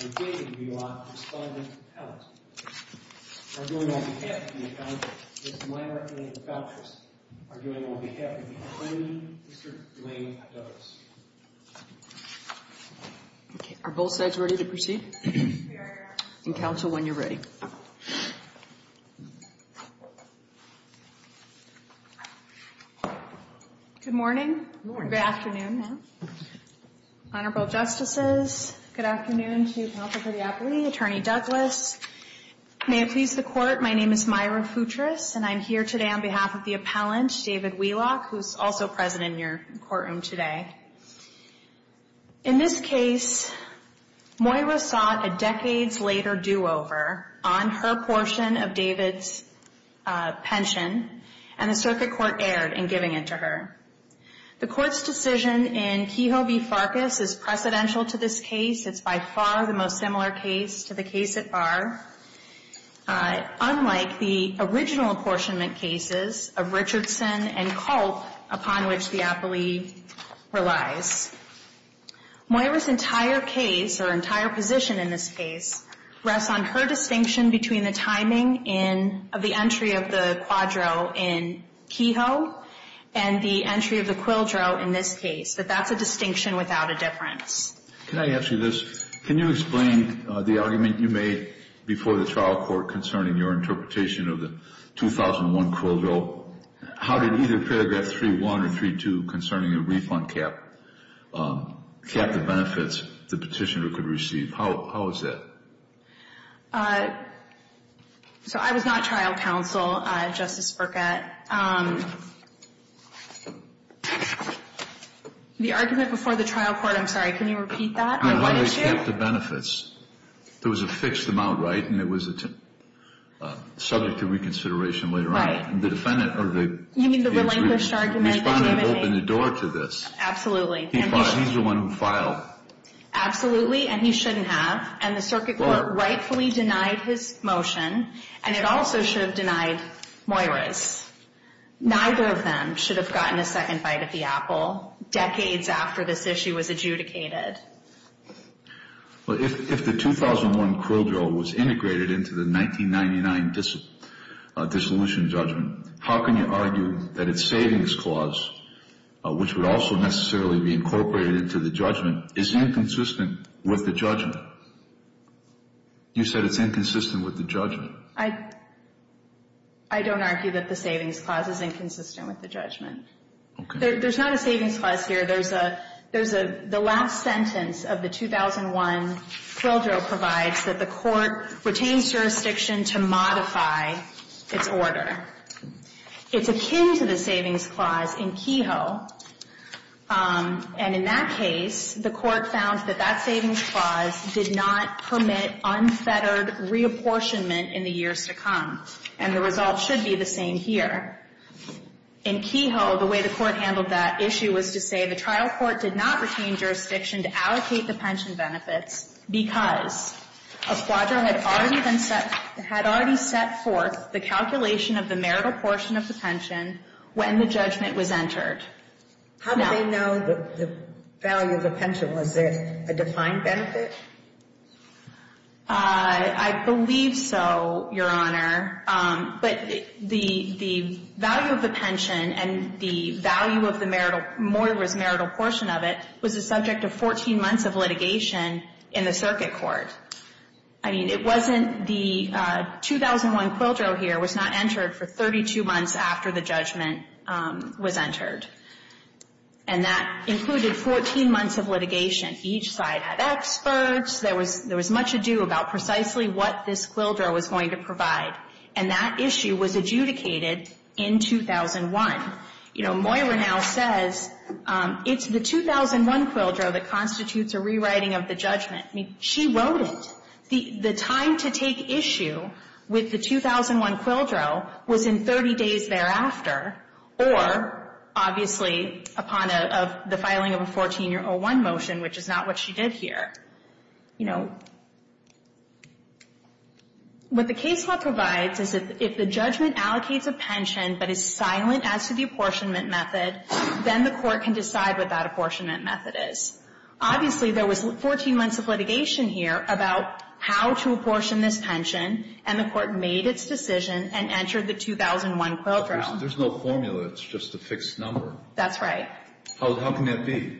and David Wheelock, respondent to Pellis, are doing on behalf of the county, Ms. Myra A. Feltress, are doing on behalf of the attorney, Mr. Dwayne Douglas. Okay, are both sides ready to proceed? We are. And counsel, when you're ready. Good morning. Good morning. Good afternoon. Honorable Justices, good afternoon to counsel for the appellee, Attorney Douglas. May it please the Court, my name is Myra Feltress, and I'm here today on behalf of the appellant, David Wheelock, who's also present in your courtroom today. In this case, Moira sought a decades later do-over on her portion of David's pension, and the Circuit Court erred in giving it to her. The Court's decision in Kehoe v. Farkas is precedential to this case. It's by far the most similar case to the case at Barr, unlike the original apportionment cases of Richardson and Culp, upon which the appellee relies. Moira's entire case, or entire position in this case, rests on her distinction between the timing of the entry of the quadro in Kehoe and the entry of the quildro in this case. But that's a distinction without a difference. Can I ask you this? Can you explain the argument you made before the trial court concerning your interpretation of the 2001 quildro? How did either paragraph 3-1 or 3-2 concerning a refund cap cap the benefits the petitioner could receive? How is that? So I was not trial counsel, Justice Burkett. The argument before the trial court, I'm sorry, can you repeat that? How did they cap the benefits? There was a fixed amount, right, and it was subject to reconsideration later on. The defendant, or the… You mean the relinquished argument? Respondent opened the door to this. Absolutely. He's the one who filed. Absolutely, and he shouldn't have. And the Circuit Court rightfully denied his motion, and it also should have denied Moira's. Neither of them should have gotten a second bite of the apple decades after this issue was adjudicated. Well, if the 2001 quildro was integrated into the 1999 dissolution judgment, how can you argue that its savings clause, which would also necessarily be incorporated into the judgment, is inconsistent with the judgment? You said it's inconsistent with the judgment. I don't argue that the savings clause is inconsistent with the judgment. Okay. There's not a savings clause here. There's a last sentence of the 2001 quildro provides that the court retains jurisdiction to modify its order. It's akin to the savings clause in Kehoe, and in that case, the court found that that savings clause did not permit unfettered reapportionment in the years to come. And the result should be the same here. In Kehoe, the way the court handled that issue was to say the trial court did not retain jurisdiction to allocate the pension benefits because a quildro had already been set – had already set forth the calculation of the marital portion of the pension when the judgment was entered. How do they know the value of the pension? Was it a defined benefit? I believe so, Your Honor. But the value of the pension and the value of the marital – Moira's marital portion of it was the subject of 14 months of litigation in the circuit court. I mean, it wasn't the – 2001 quildro here was not entered for 32 months after the judgment was entered. And that included 14 months of litigation. Each side had experts. There was – there was much ado about precisely what this quildro was going to provide. And that issue was adjudicated in 2001. You know, Moira now says it's the 2001 quildro that constitutes a rewriting of the judgment. I mean, she wrote it. The time to take issue with the 2001 quildro was in 30 days thereafter or, obviously, upon a – of the filing of a 14-year 01 motion, which is not what she did here. You know, what the case law provides is that if the judgment allocates a pension but is silent as to the apportionment method, then the court can decide what that apportionment method is. Obviously, there was 14 months of litigation here about how to apportion this pension, and the court made its decision and entered the 2001 quildro. There's no formula. It's just a fixed number. That's right. How can that be?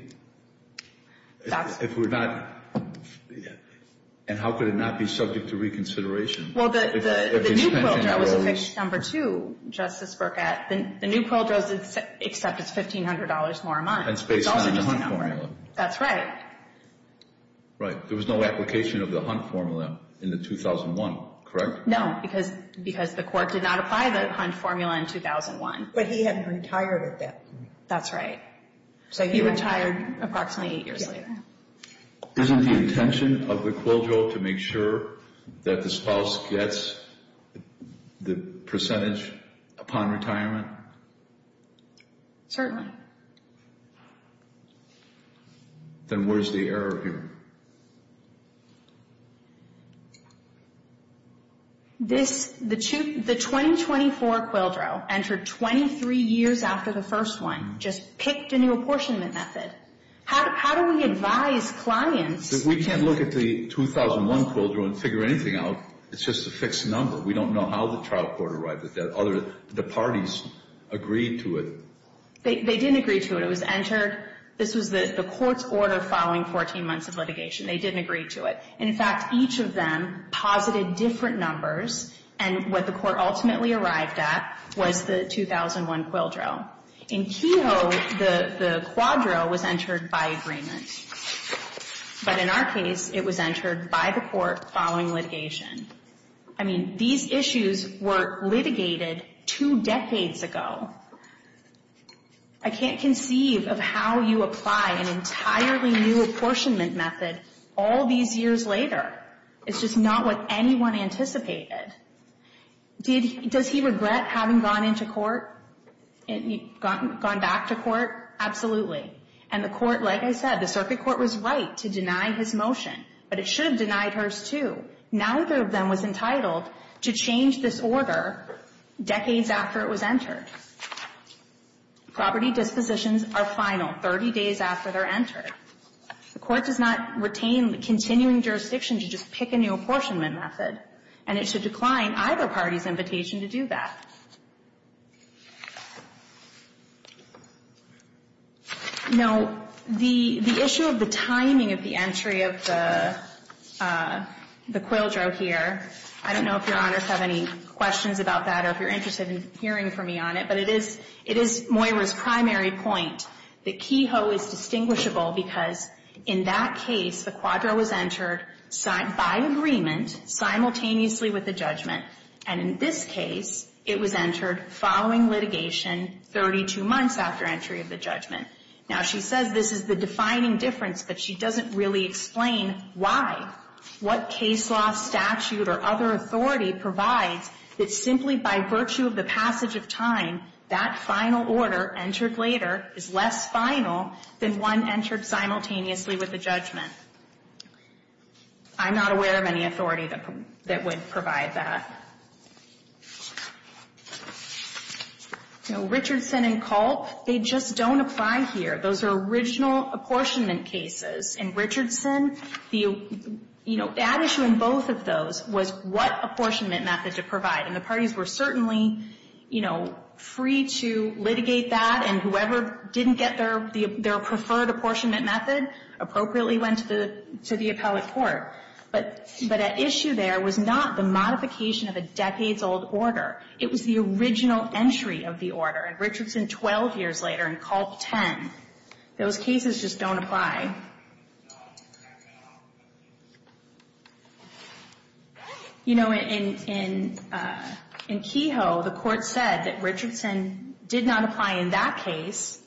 If we're not – and how could it not be subject to reconsideration? Well, the new quildro was a fixed number, too, Justice Burkett. The new quildro is – except it's $1,500 more a month. And it's based on the Hunt formula. That's right. Right. There was no application of the Hunt formula in the 2001, correct? No, because the court did not apply the Hunt formula in 2001. But he hadn't retired at that point. That's right. So he retired approximately eight years later. Isn't the intention of the quildro to make sure that the spouse gets the percentage upon retirement? Certainly. Then where's the error here? The 2024 quildro entered 23 years after the first one, just picked a new apportionment method. How do we advise clients? If we can't look at the 2001 quildro and figure anything out, it's just a fixed number. We don't know how the trial court arrived at that. The parties agreed to it. They didn't agree to it. It was entered – this was the court's order following 14 months of litigation. They didn't agree to it. In fact, each of them posited different numbers. And what the court ultimately arrived at was the 2001 quildro. In Kehoe, the quadro was entered by agreement. But in our case, it was entered by the court following litigation. I mean, these issues were litigated two decades ago. I can't conceive of how you apply an entirely new apportionment method all these years later. It's just not what anyone anticipated. Does he regret having gone into court, gone back to court? Absolutely. And the court, like I said, the circuit court was right to deny his motion. But it should have denied hers too. Neither of them was entitled to change this order decades after it was entered. Property dispositions are final 30 days after they're entered. The court does not retain the continuing jurisdiction to just pick a new apportionment method, and it should decline either party's invitation to do that. No. The issue of the timing of the entry of the quildro here, I don't know if Your Honors have any questions about that or if you're interested in hearing from me on it, but it is Moira's primary point that Kehoe is distinguishable because in that case, the quadro was entered by agreement simultaneously with the judgment. And in this case, it was entered following litigation 32 months after entry of the judgment. Now, she says this is the defining difference, but she doesn't really explain why. What case law statute or other authority provides that simply by virtue of the passage of time, that final order entered later is less final than one entered simultaneously with the judgment? I'm not aware of any authority that would provide that. Richardson and Colt, they just don't apply here. Those are original apportionment cases. In Richardson, the, you know, the issue in both of those was what apportionment method to provide. And the parties were certainly, you know, free to litigate that, and whoever didn't get their preferred apportionment method appropriately went to the appellate court. But at issue there was not the modification of a decades-old order. It was the original entry of the order. In Richardson, 12 years later, in Colt 10, those cases just don't apply. You know, in Kehoe, the Court said that Richardson did not apply in that case.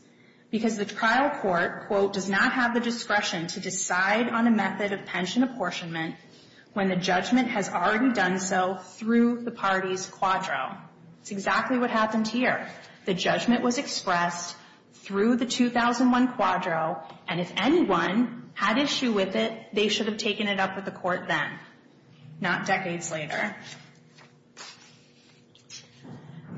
Because the trial court, quote, does not have the discretion to decide on a method of pension apportionment when the judgment has already done so through the party's quadro. It's exactly what happened here. The judgment was expressed through the 2001 quadro. And if anyone had issue with it, they should have taken it up with the court then, not decades later.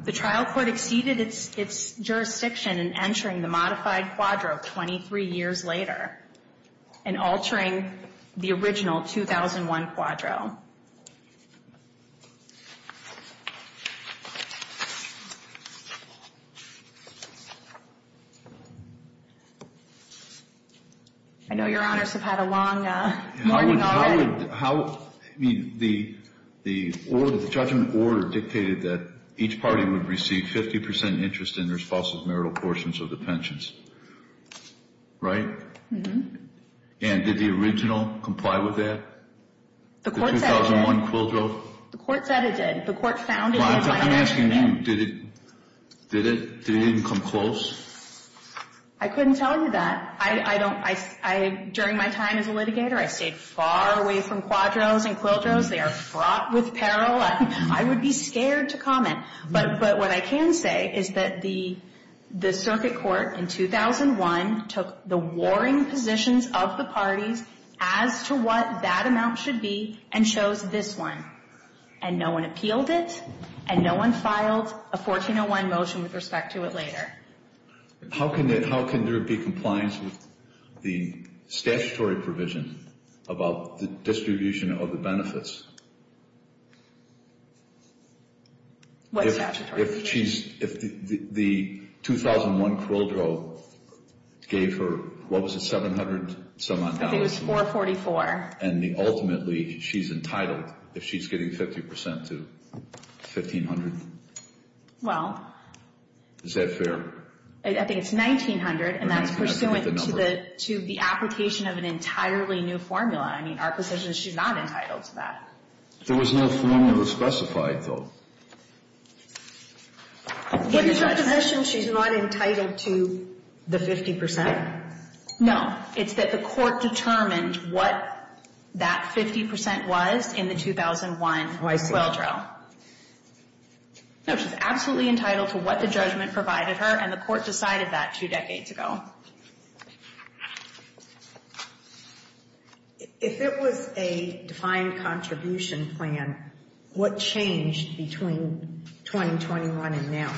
The trial court exceeded its jurisdiction in entering the modified quadro 23 years later and altering the original 2001 quadro. I know Your Honors have had a long morning already. The judgment order dictated that each party would receive 50 percent interest in their spouse's marital portions of the pensions. Right? And did the original comply with that? The 2001 quadro? The court said it did. The court found it. I'm asking you. Did it? Did it even come close? I couldn't tell you that. During my time as a litigator, I stayed far away from quadros and quildros. They are fraught with peril. I would be scared to comment. But what I can say is that the circuit court in 2001 took the warring positions of the parties as to what that amount should be and chose this one. And no one appealed it. And no one filed a 1401 motion with respect to it later. How can there be compliance with the statutory provision about the distribution of the benefits? What statutory? If the 2001 quadro gave her, what was it, $700? I think it was $444. And ultimately she's entitled, if she's getting 50 percent to $1,500. Well. Is that fair? I think it's $1,900. And that's pursuant to the application of an entirely new formula. I mean, our position is she's not entitled to that. There was no formula specified, though. In your position, she's not entitled to the 50 percent? No. It's that the court determined what that 50 percent was in the 2001 quadro. Oh, I see. No, she's absolutely entitled to what the judgment provided her, and the court decided that two decades ago. If it was a defined contribution plan, what changed between 2021 and now?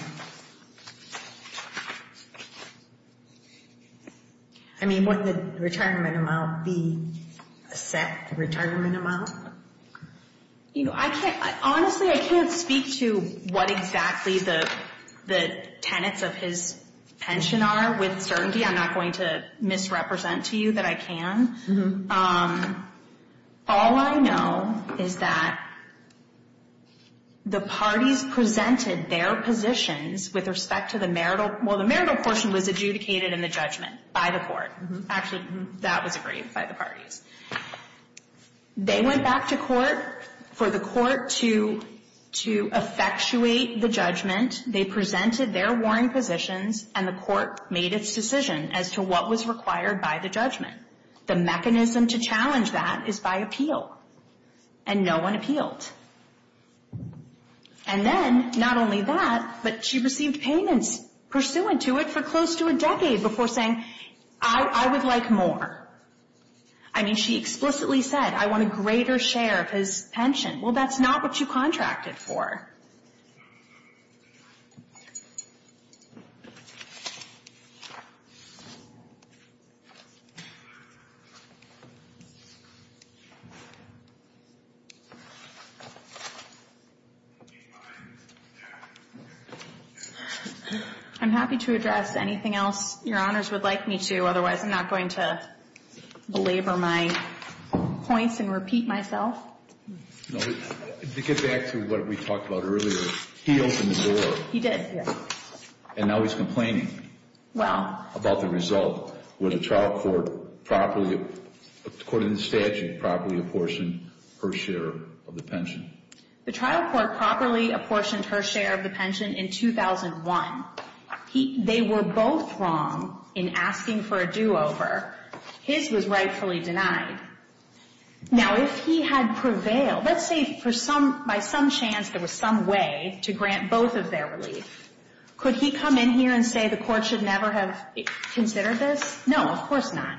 I mean, wouldn't the retirement amount be a set retirement amount? Honestly, I can't speak to what exactly the tenets of his pension are with certainty. I'm not going to misrepresent to you that I can. All I know is that the parties presented their positions with respect to the marital. Well, the marital portion was adjudicated in the judgment by the court. Actually, that was agreed by the parties. They went back to court for the court to effectuate the judgment. They presented their warrant positions, and the court made its decision as to what was required by the judgment. The mechanism to challenge that is by appeal, and no one appealed. And then, not only that, but she received payments pursuant to it for close to a decade before saying, I would like more. I mean, she explicitly said, I want a greater share of his pension. Well, that's not what you contracted for. I'm happy to address anything else Your Honors would like me to. Otherwise, I'm not going to belabor my points and repeat myself. To get back to what we talked about earlier, he opened the door. He did, yes. And now he's complaining about the result. Would a trial court, according to statute, properly apportion her share of the pension? The trial court properly apportioned her share of the pension in 2001. They were both wrong in asking for a do-over. His was rightfully denied. Now, if he had prevailed, let's say by some chance there was some way to grant both of their relief, could he come in here and say the court should never have considered this? No, of course not.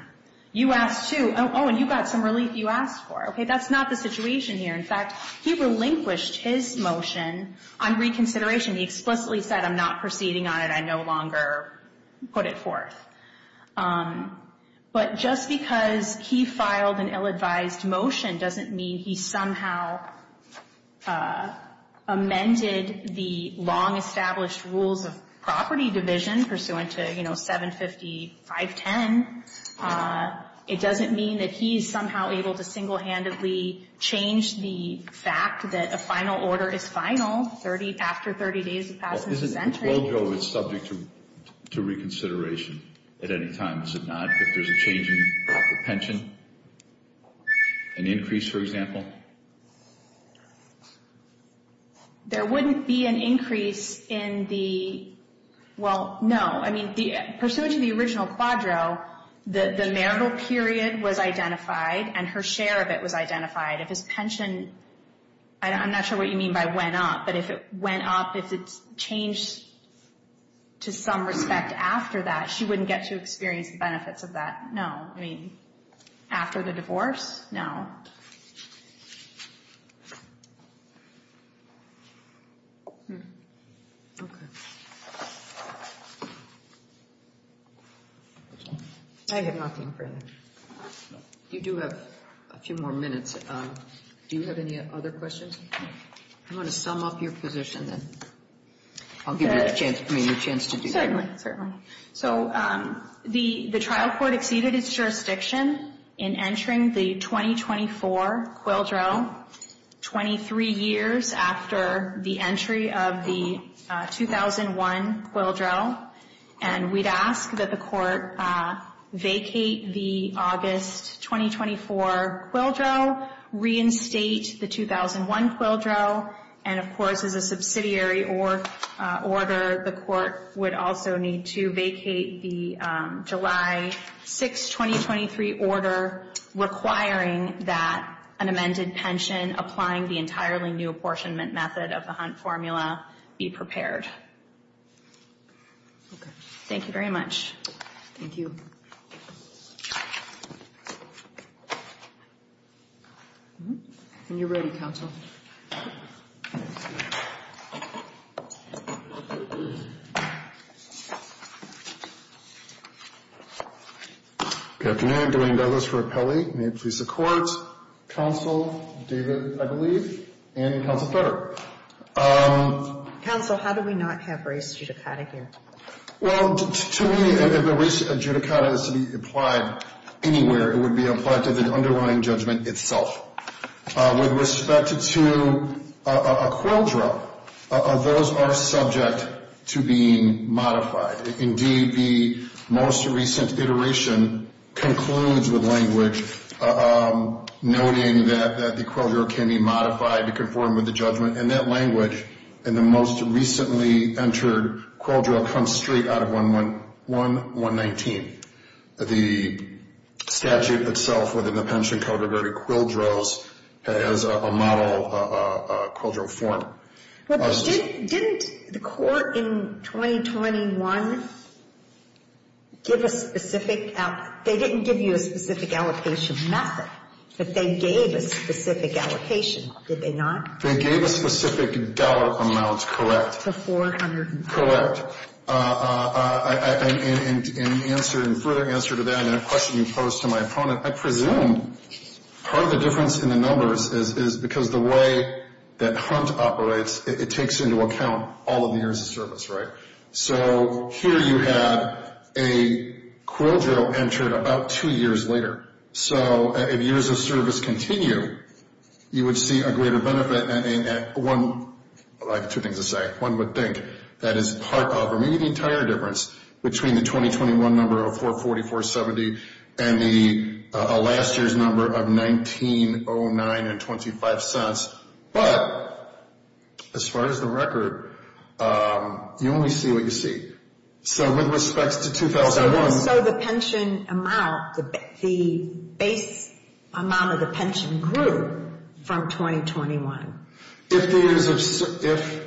You asked, too. Oh, and you got some relief you asked for. Okay, that's not the situation here. In fact, he relinquished his motion on reconsideration. He explicitly said, I'm not proceeding on it. I no longer put it forth. But just because he filed an ill-advised motion doesn't mean he somehow amended the long-established rules of property division pursuant to, you know, 75510. It doesn't mean that he's somehow able to single-handedly change the fact that a final order is final after 30 days have passed in the sentence. But isn't the quadro subject to reconsideration at any time? Is it not if there's a change in the pension? An increase, for example? There wouldn't be an increase in the – well, no. I mean, pursuant to the original quadro, the marital period was identified and her share of it was identified. If his pension – I'm not sure what you mean by went up, but if it went up, if it's changed to some respect after that, she wouldn't get to experience the benefits of that. No. I mean, after the divorce? No. Okay. I have nothing further. You do have a few more minutes. Do you have any other questions? I'm going to sum up your position, then. I'll give you a chance to do that. Certainly, certainly. So the trial court exceeded its jurisdiction in entering the 2024 quadro 23 years after the entry of the 2001 quadro. And we'd ask that the court vacate the August 2024 quadro, reinstate the 2001 quadro, and, of course, as a subsidiary order, the court would also need to vacate the July 6, 2023 order requiring that an amended pension applying the entirely new apportionment method of the Hunt formula be prepared. Okay. Thank you very much. Thank you. And you're ready, counsel. Good afternoon. Good afternoon. I'm Dwayne Douglas for Apelli. May it please the Court, Counsel David, I believe, and Counsel Federer. Counsel, how do we not have race judicata here? Well, to me, if a race judicata is to be applied anywhere, it would be applied to the underlying judgment itself. With respect to a quadro, those are subject to being modified. Indeed, the most recent iteration concludes with language noting that the quadro can be modified to conform with the judgment. And that language in the most recently entered quadro comes straight out of 111-119. The statute itself within the pension code regarding quadros has a model quadro form. Well, didn't the court in 2021 give a specific, they didn't give you a specific allocation method, but they gave a specific allocation, did they not? They gave a specific dollar amount, correct. To $400,000. Correct. And in answer, in further answer to that and a question posed to my opponent, I presume part of the difference in the numbers is because the way that Hunt operates, it takes into account all of the years of service, right? So here you have a quadro entered about two years later. So if years of service continue, you would see a greater benefit at one, well, I have two things to say, one would think that is part of between the 2021 number of 444.70 and the last year's number of 1909.25 cents. But as far as the record, you only see what you see. So with respect to 2001. So the pension amount, the base amount of the pension grew from 2021. If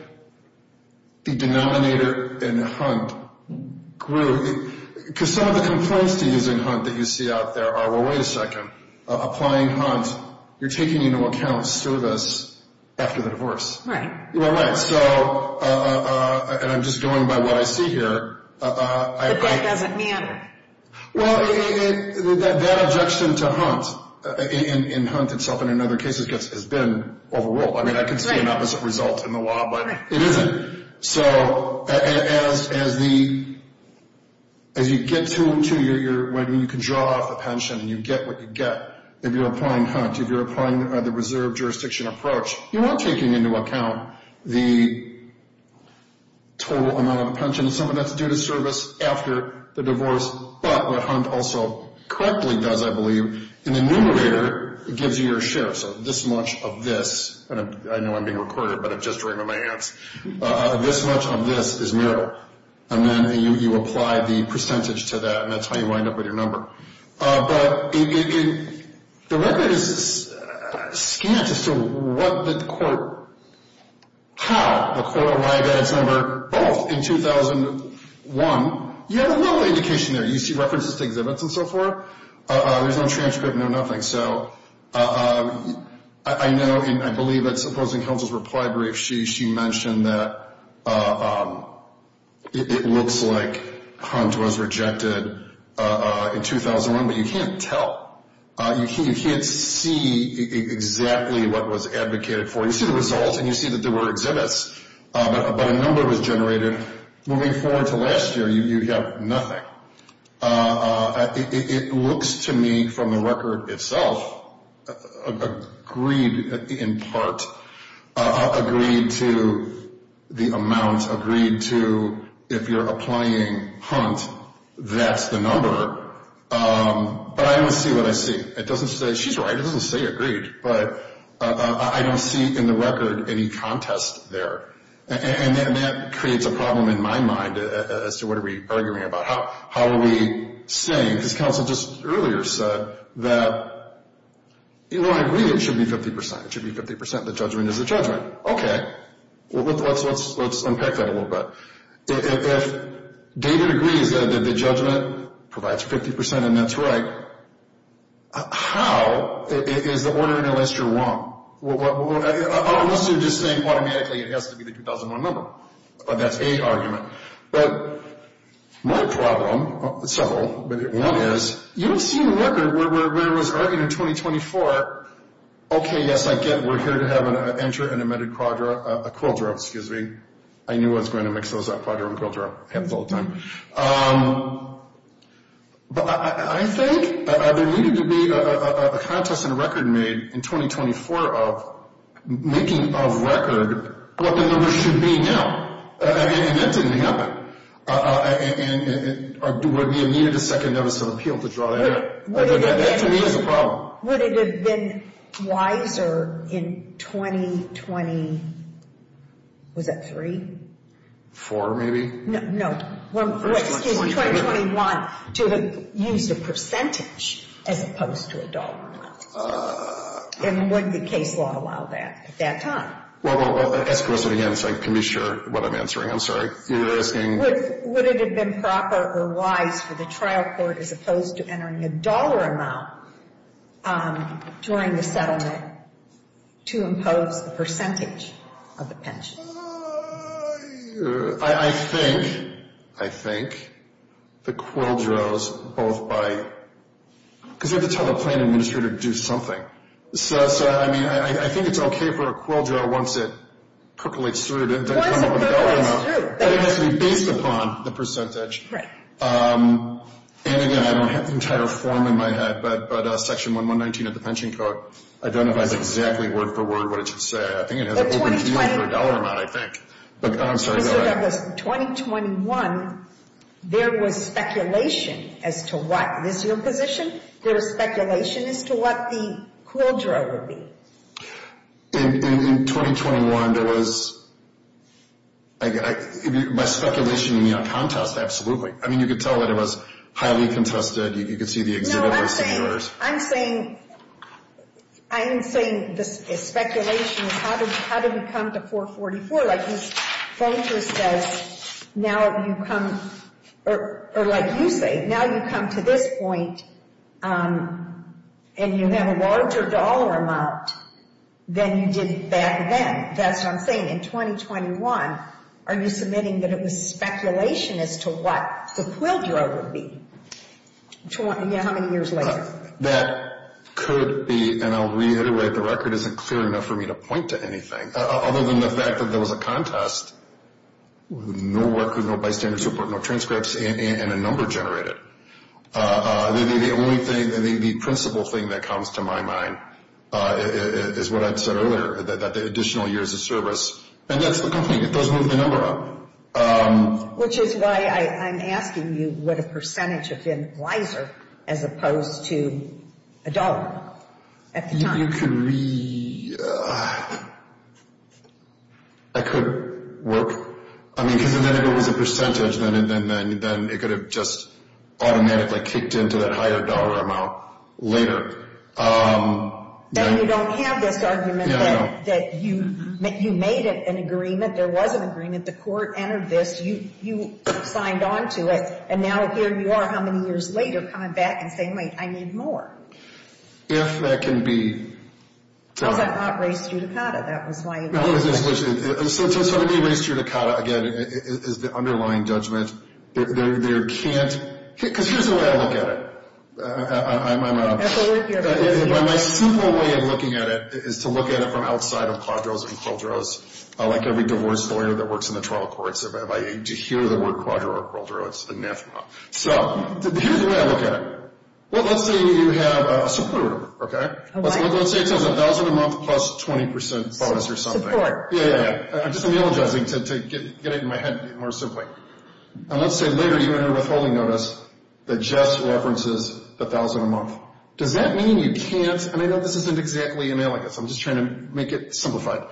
the denominator in Hunt grew, because some of the complaints to using Hunt that you see out there are, well, wait a second, applying Hunt, you're taking into account service after the divorce. Right. Well, right. And I'm just going by what I see here. But that doesn't matter. Well, that objection to Hunt in Hunt itself and in other cases has been overruled. I mean, I can see an opposite result in the law, but it isn't. So as you get to when you can draw off the pension and you get what you get, if you're applying Hunt, if you're applying the reserve jurisdiction approach, you are taking into account the total amount of the pension, something that's due to service after the divorce. But what Hunt also correctly does, I believe, in the numerator, it gives you your share. So this much of this, and I know I'm being recorded, but it just rang on my ants, this much of this is marital. And then you apply the percentage to that, and that's how you wind up with your number. But the record is scant as to what the court, how the court arrived at its number, both in 2001. You have a little indication there. You see references to exhibits and so forth. There's no transcript, no nothing. So I know and I believe that Supposing Counsel's reply brief, she mentioned that it looks like Hunt was rejected in 2001, but you can't tell. You can't see exactly what was advocated for. You see the results and you see that there were exhibits, but a number was generated. Moving forward to last year, you have nothing. It looks to me from the record itself agreed in part, agreed to the amount, agreed to if you're applying Hunt, that's the number. But I don't see what I see. She's right, it doesn't say agreed. But I don't see in the record any contest there. And that creates a problem in my mind as to what are we arguing about. How are we saying? Because Counsel just earlier said that, you know, I agree it should be 50%. It should be 50%. The judgment is the judgment. Okay. Let's unpack that a little bit. If David agrees that the judgment provides 50% and that's right, how? Is the order in the list wrong? Unless you're just saying automatically it has to be the 2001 number. But that's a argument. But my problem, several, but one is you don't see in the record where it was argued in 2024, okay, yes, I get it. We're here to have an enter and emitted quadro, a quadro, excuse me. I knew I was going to mix those up, quadro and quadro. Happens all the time. But I think there needed to be a contest in the record made in 2024 of making of record what the numbers should be now. And that didn't happen. And we needed a second notice of appeal to draw that out. That to me is a problem. Would it have been wiser in 2020, was that three? Four maybe. No. Excuse me, 2021 to have used a percentage as opposed to a dollar amount. And would the case law allow that at that time? Well, I'll ask the question again so I can be sure what I'm answering. I'm sorry. You're asking? Would it have been proper or wise for the trial court as opposed to entering a dollar amount during the settlement to impose a percentage of the pension? I think, I think the quadros both by, because you have to tell the plan administrator to do something. So, I mean, I think it's okay for a quadro once it percolates through. But it has to be based upon the percentage. And again, I don't have the entire form in my head, but section 119 of the pension code identifies exactly word for word what it should say. I think it has a dollar amount, I think. But I'm sorry. In 2021, there was speculation as to what, this is your position, there was speculation as to what the quadro would be. In 2021, there was, by speculation you mean a contest, absolutely. I mean, you could tell that it was highly contested. You could see the exhibit was singular. I'm saying, I am saying this is speculation. How did we come to 444? Like you say, now you come to this point and you have a larger dollar amount than you did back then. That's what I'm saying. In 2021, are you submitting that it was speculation as to what the quadro would be? Yeah, how many years later? That could be, and I'll reiterate, the record isn't clear enough for me to point to anything. Other than the fact that there was a contest, no record, no bystanders report, no transcripts, and a number generated. The only thing, the principal thing that comes to my mind is what I said earlier, that the additional years of service. And that's the complaint. It doesn't move the number up. Which is why I'm asking you what a percentage of it was wiser as opposed to a dollar at the time. You could be, I could work. I mean, because if it was a percentage, then it could have just automatically kicked into that higher dollar amount later. Then you don't have this argument that you made an agreement, there was an agreement. The court entered this. You signed on to it. And now here you are, how many years later, coming back and saying, wait, I need more. If that can be. Because I'm not raised judicata. That was why you asked. So to be raised judicata, again, is the underlying judgment. There can't, because here's the way I look at it. My simple way of looking at it is to look at it from outside of quadros and quadros. Like every divorce lawyer that works in the trial courts, if I need to hear the word quadro or quadro, it's anathema. So here's the way I look at it. Let's say you have a supporter, okay. Let's say it says 1,000 a month plus 20% bonus or something. Yeah, yeah, yeah. I'm just analogizing to get it in my head more simply. And let's say later you enter a withholding notice that just references 1,000 a month. Does that mean you can't, and I know this isn't exactly analogous. I'm just trying to make it simplified.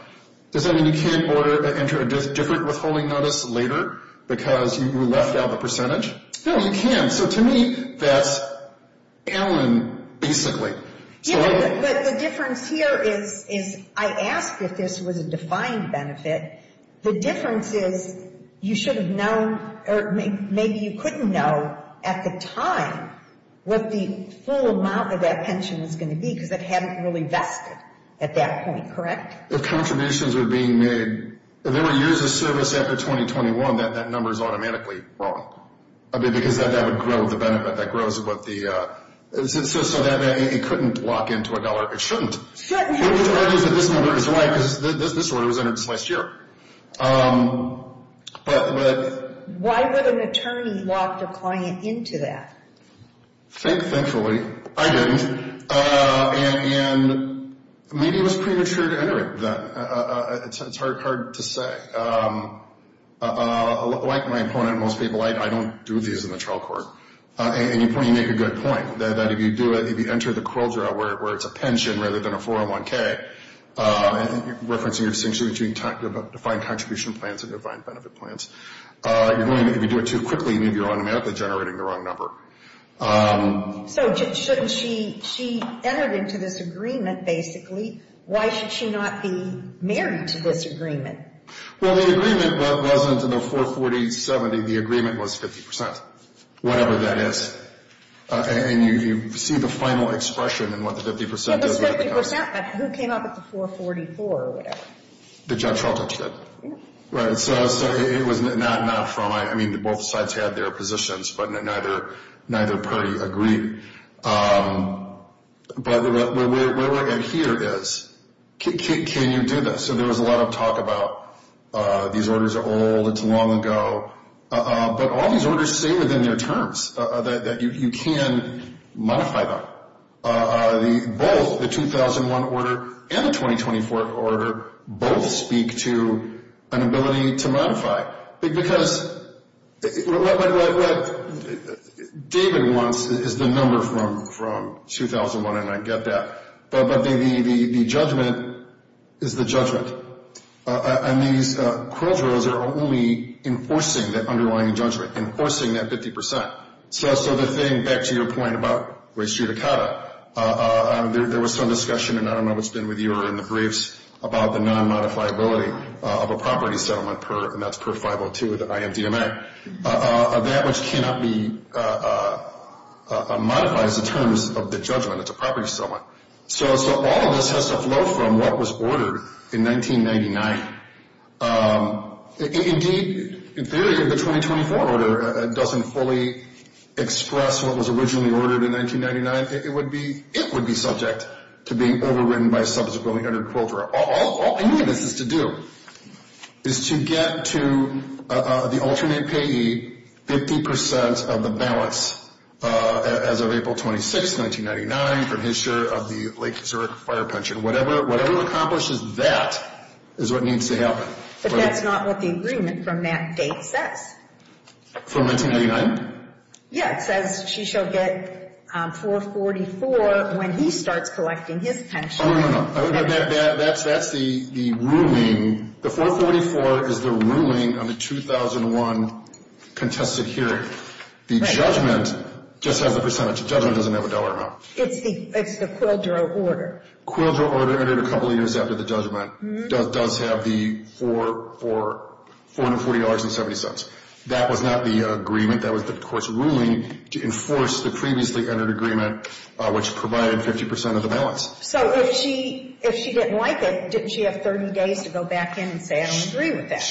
Does that mean you can't enter a different withholding notice later because you left out the percentage? No, you can. So to me, that's Allen, basically. Yeah, but the difference here is I asked if this was a defined benefit. The difference is you should have known or maybe you couldn't know at the time what the full amount of that pension was going to be because it hadn't really vested at that point, correct? If contributions were being made, if there were years of service after 2021, that number is automatically wrong. I mean, because that would grow the benefit. That grows what the, so that it couldn't lock into a dollar. It shouldn't. It argues that this number is right because this order was entered this last year. But why would an attorney lock a client into that? Thankfully, I didn't. And maybe it was premature to enter it then. It's hard to say. Like my opponent, most people, I don't do these in the trial court. And you make a good point that if you do it, if you enter the quota where it's a pension rather than a 401K, referencing your distinction between defined contribution plans and defined benefit plans, if you do it too quickly, maybe you're automatically generating the wrong number. So shouldn't she, she entered into this agreement, basically. Why should she not be married to this agreement? Well, the agreement wasn't in the 440-70. The agreement was 50 percent, whatever that is. And you see the final expression in what the 50 percent is. Yeah, it was 50 percent, but who came up with the 440-4 or whatever? The judge all touched it. Yeah. Right. So it was not from, I mean, both sides had their positions, but neither party agreed. But where we're at here is can you do this? So there was a lot of talk about these orders are old, it's long ago. But all these orders say within their terms that you can modify them. Both, the 2001 order and the 2024 order, both speak to an ability to modify. Because what David wants is the number from 2001, and I get that. But the judgment is the judgment. And these quill drills are only enforcing that underlying judgment, enforcing that 50 percent. So the thing, back to your point about race judicata, there was some discussion, and I don't know if it's been with you or in the briefs, about the non-modifiability of a property settlement, and that's per 502 of the IMDMA. That which cannot be modified is the terms of the judgment. It's a property settlement. So all of this has to flow from what was ordered in 1999. Indeed, in theory, if the 2024 order doesn't fully express what was originally ordered in 1999, it would be subject to being overridden by a subsequent 100 quill drill. All any of this has to do is to get to the alternate payee 50 percent of the balance as of April 26, 1999, from his share of the Lake Zurich fire pension. And whatever accomplishes that is what needs to happen. But that's not what the agreement from that date says. From 1999? Yeah, it says she shall get 444 when he starts collecting his pension. Oh, no, no, no. That's the ruling. The 444 is the ruling on the 2001 contested hearing. Right. The judgment just has the percentage. The judgment doesn't have a dollar amount. It's the quill drill order. Quill drill order entered a couple of years after the judgment does have the $440.70. That was not the agreement. That was the court's ruling to enforce the previously entered agreement, which provided 50 percent of the balance. So if she didn't like it, didn't she have 30 days to go back in and say, I don't agree with that?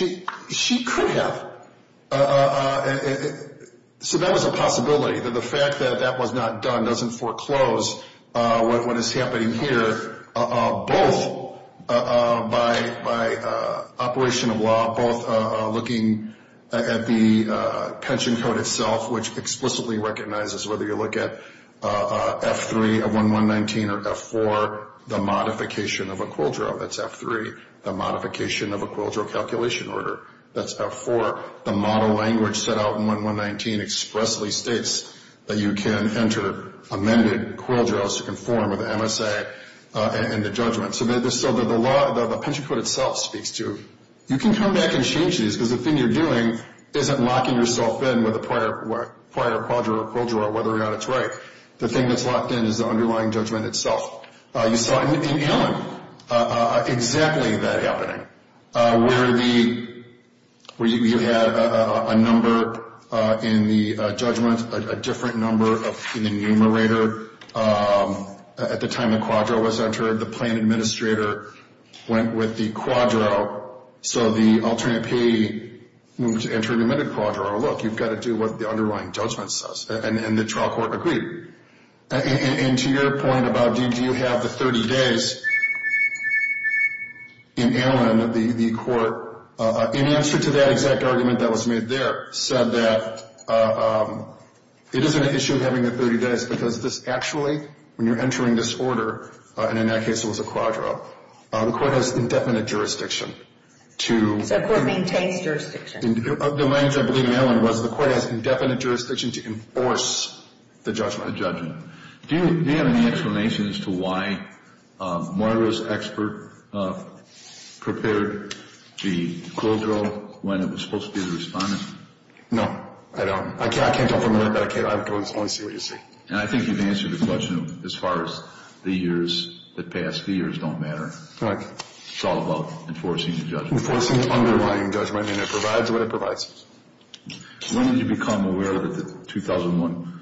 She could have. So that was a possibility, that the fact that that was not done doesn't foreclose what is happening here, both by operation of law, both looking at the pension code itself, which explicitly recognizes whether you look at F3 of 1119 or F4, the modification of a quill drill. That's F3, the modification of a quill drill calculation order. That's F4, the model language set out in 1119 expressly states that you can enter amended quill drills to conform with MSA and the judgment. So the law, the pension code itself speaks to, you can come back and change these, because the thing you're doing isn't locking yourself in with a prior quill drill or whether or not it's right. The thing that's locked in is the underlying judgment itself. You saw it in Allen, exactly that happening, where you had a number in the judgment, a different number in the numerator. At the time the quadro was entered, the plan administrator went with the quadro, so the alternate payee moved to enter an amended quadro. Oh, look, you've got to do what the underlying judgment says, and the trial court agreed. And to your point about do you have the 30 days, in Allen, the court, in answer to that exact argument that was made there, said that it isn't an issue having the 30 days, because this actually, when you're entering this order, and in that case it was a quadro, the court has indefinite jurisdiction to... So the court maintains jurisdiction. The language I believe in Allen was the court has indefinite jurisdiction to enforce the judgment. Do you have any explanation as to why Margaret's expert prepared the quadro when it was supposed to be the respondent? No, I don't. I can't confirm that. I can't. I don't want to see what you say. And I think you've answered the question as far as the years that passed. The years don't matter. Right. It's all about enforcing the judgment. Enforcing the underlying judgment. I mean, it provides what it provides. When did you become aware that the 2001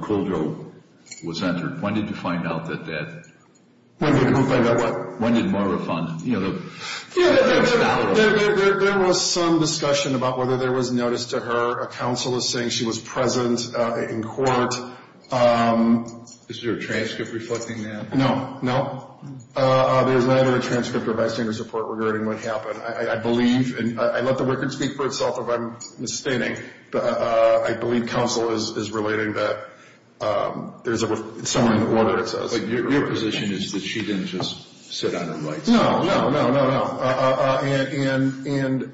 quadro was entered? When did you find out that that... When did I find out what? When did Marga refund? There was some discussion about whether there was notice to her. A counsel is saying she was present in court. Is there a transcript reflecting that? No. No. There's neither a transcript or bystander support regarding what happened. I believe, and I let the record speak for itself if I'm misstating, but I believe counsel is relating that there's someone in order, it says. But your position is that she didn't just sit on the lights? No. No. No. No. No. And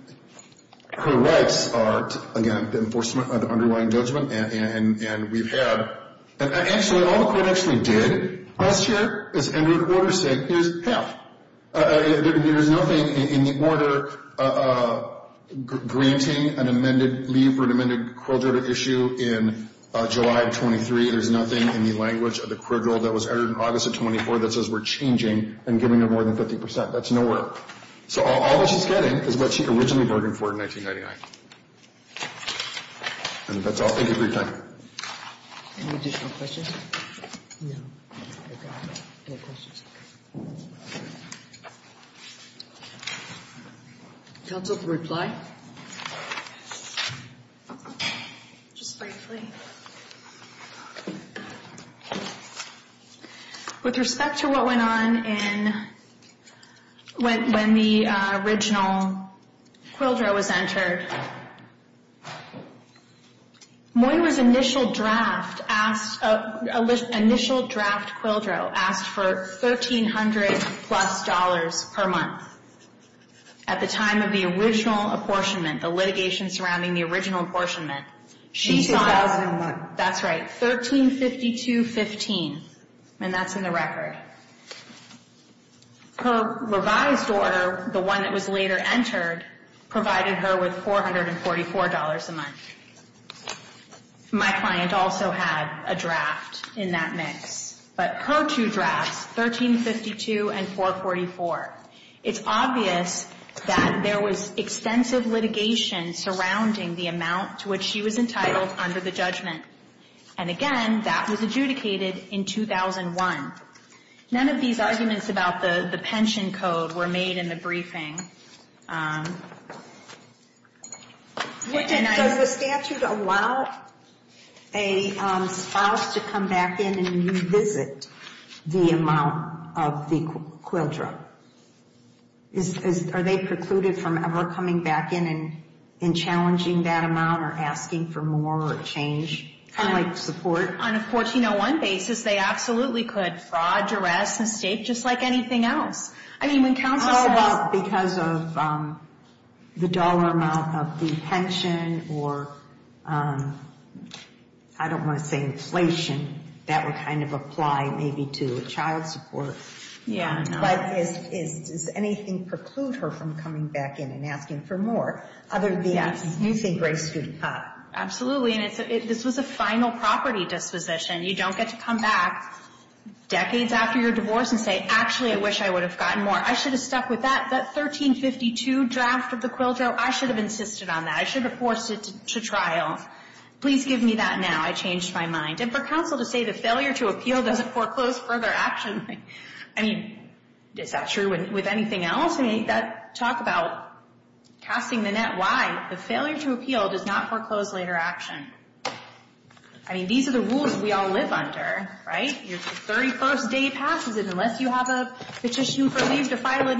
her rights are, again, the enforcement of the underlying judgment. And we've had... Actually, all the court actually did last year is enter a quarter saying, here's half. There's nothing in the order granting an amended leave for an amended quadro issue in July of 23. There's nothing in the language of the quadro that was entered in August of 24 that says we're changing and giving her more than 50%. That's nowhere. So all that she's getting is what she originally bargained for in 1999. And that's all. Thank you for your time. Any additional questions? No. Okay. Any questions? Counsel can reply. Just briefly. With respect to what went on when the original quadro was entered, Moyer's initial draft quadro asked for $1,300 plus per month at the time of the original apportionment, the litigation surrounding the original apportionment. In 2001. That's right. $1,352.15. And that's in the record. Her revised order, the one that was later entered, provided her with $444 a month. My client also had a draft in that mix. But her two drafts, $1,352 and $444. It's obvious that there was extensive litigation surrounding the amount to which she was entitled under the judgment. And, again, that was adjudicated in 2001. None of these arguments about the pension code were made in the briefing. Does the statute allow a spouse to come back in and revisit the amount of the quadro? Are they precluded from ever coming back in and challenging that amount or asking for more or a change? Kind of like support? On a 1401 basis, they absolutely could. Fraud, duress, mistake, just like anything else. I mean, when counsel says — How about because of the dollar amount of the pension or, I don't want to say inflation, that would kind of apply maybe to child support? Yeah. But does anything preclude her from coming back in and asking for more? Yes. Other than, you think, race to the top. Absolutely. And this was a final property disposition. You don't get to come back decades after your divorce and say, actually, I wish I would have gotten more. I should have stuck with that. That $1,352 draft of the quadro, I should have insisted on that. I should have forced it to trial. Please give me that now. I changed my mind. And for counsel to say the failure to appeal doesn't foreclose further action, I mean, is that true with anything else? I mean, talk about casting the net wide. The failure to appeal does not foreclose later action. I mean, these are the rules we all live under, right? Your 31st day passes, and unless you have a petition for leave to file a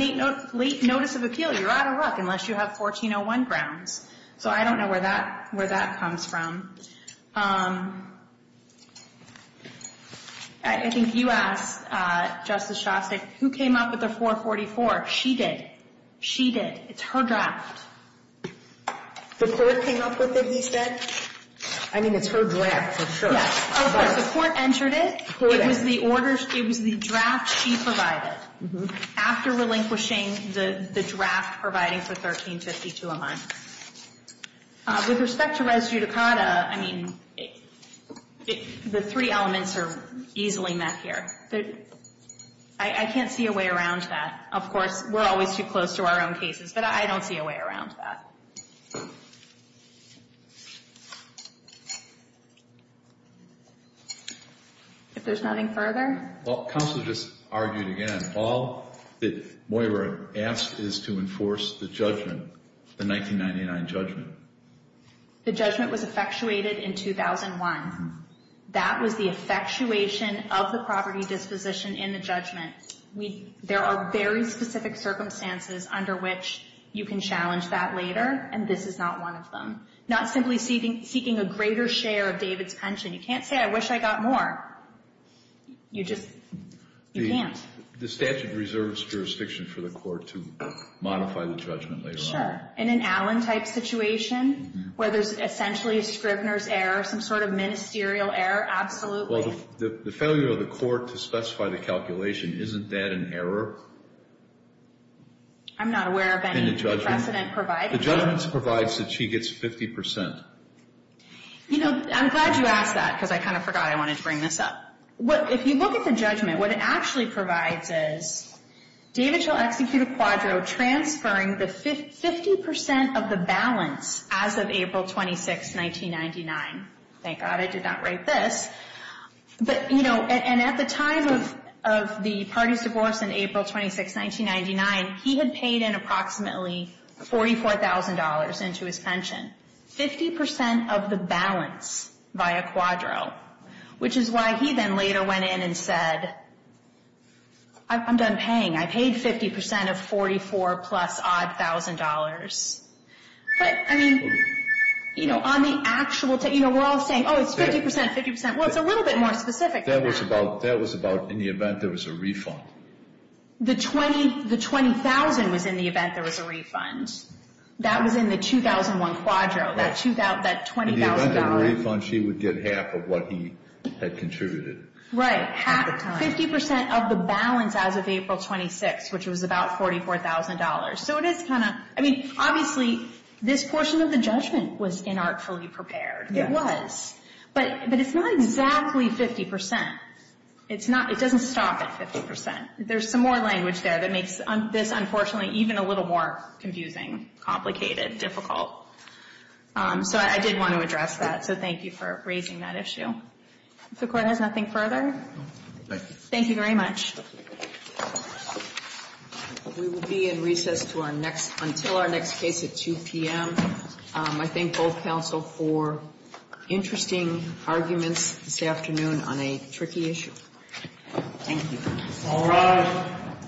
late notice of appeal, you're out of luck, unless you have 1401 grounds. So I don't know where that comes from. I think you asked, Justice Shostak, who came up with the 444? She did. She did. It's her draft. The court came up with it, you said? I mean, it's her draft, for sure. Yes. The court entered it. It was the draft she provided after relinquishing the draft providing for $1,352 a month. With respect to res judicata, I mean, the three elements are easily met here. I can't see a way around that. Of course, we're always too close to our own cases, but I don't see a way around that. If there's nothing further? Well, counsel just argued again. All that Moira asked is to enforce the judgment, the 1999 judgment. The judgment was effectuated in 2001. That was the effectuation of the property disposition in the judgment. There are very specific circumstances under which you can challenge that later, and this is not one of them. Not simply seeking a greater share of David's pension. You can't say, I wish I got more. You just can't. You can't. The statute reserves jurisdiction for the court to modify the judgment later on. In an Allen-type situation where there's essentially a Scribner's error, some sort of ministerial error, absolutely. Well, the failure of the court to specify the calculation, isn't that an error? I'm not aware of any precedent provided. The judgment provides that she gets 50%. You know, I'm glad you asked that because I kind of forgot I wanted to bring this up. If you look at the judgment, what it actually provides is, David shall execute a quadro transferring the 50% of the balance as of April 26, 1999. Thank God I did not write this. But, you know, and at the time of the party's divorce in April 26, 1999, he had paid in approximately $44,000 into his pension. 50% of the balance via quadro. Which is why he then later went in and said, I'm done paying. I paid 50% of 44 plus odd thousand dollars. But, I mean, you know, on the actual, you know, we're all saying, oh, it's 50%, 50%. Well, it's a little bit more specific than that. That was about in the event there was a refund. The 20,000 was in the event there was a refund. That was in the 2001 quadro, that $20,000. If there was a refund, she would get half of what he had contributed. Right. 50% of the balance as of April 26, which was about $44,000. So it is kind of, I mean, obviously this portion of the judgment was inartfully prepared. It was. But it's not exactly 50%. It's not, it doesn't stop at 50%. There's some more language there that makes this, unfortunately, even a little more confusing, complicated, difficult. So I did want to address that. So thank you for raising that issue. If the Court has nothing further. Thank you. Thank you very much. We will be in recess until our next case at 2 p.m. I thank both counsel for interesting arguments this afternoon on a tricky issue. Thank you. All rise.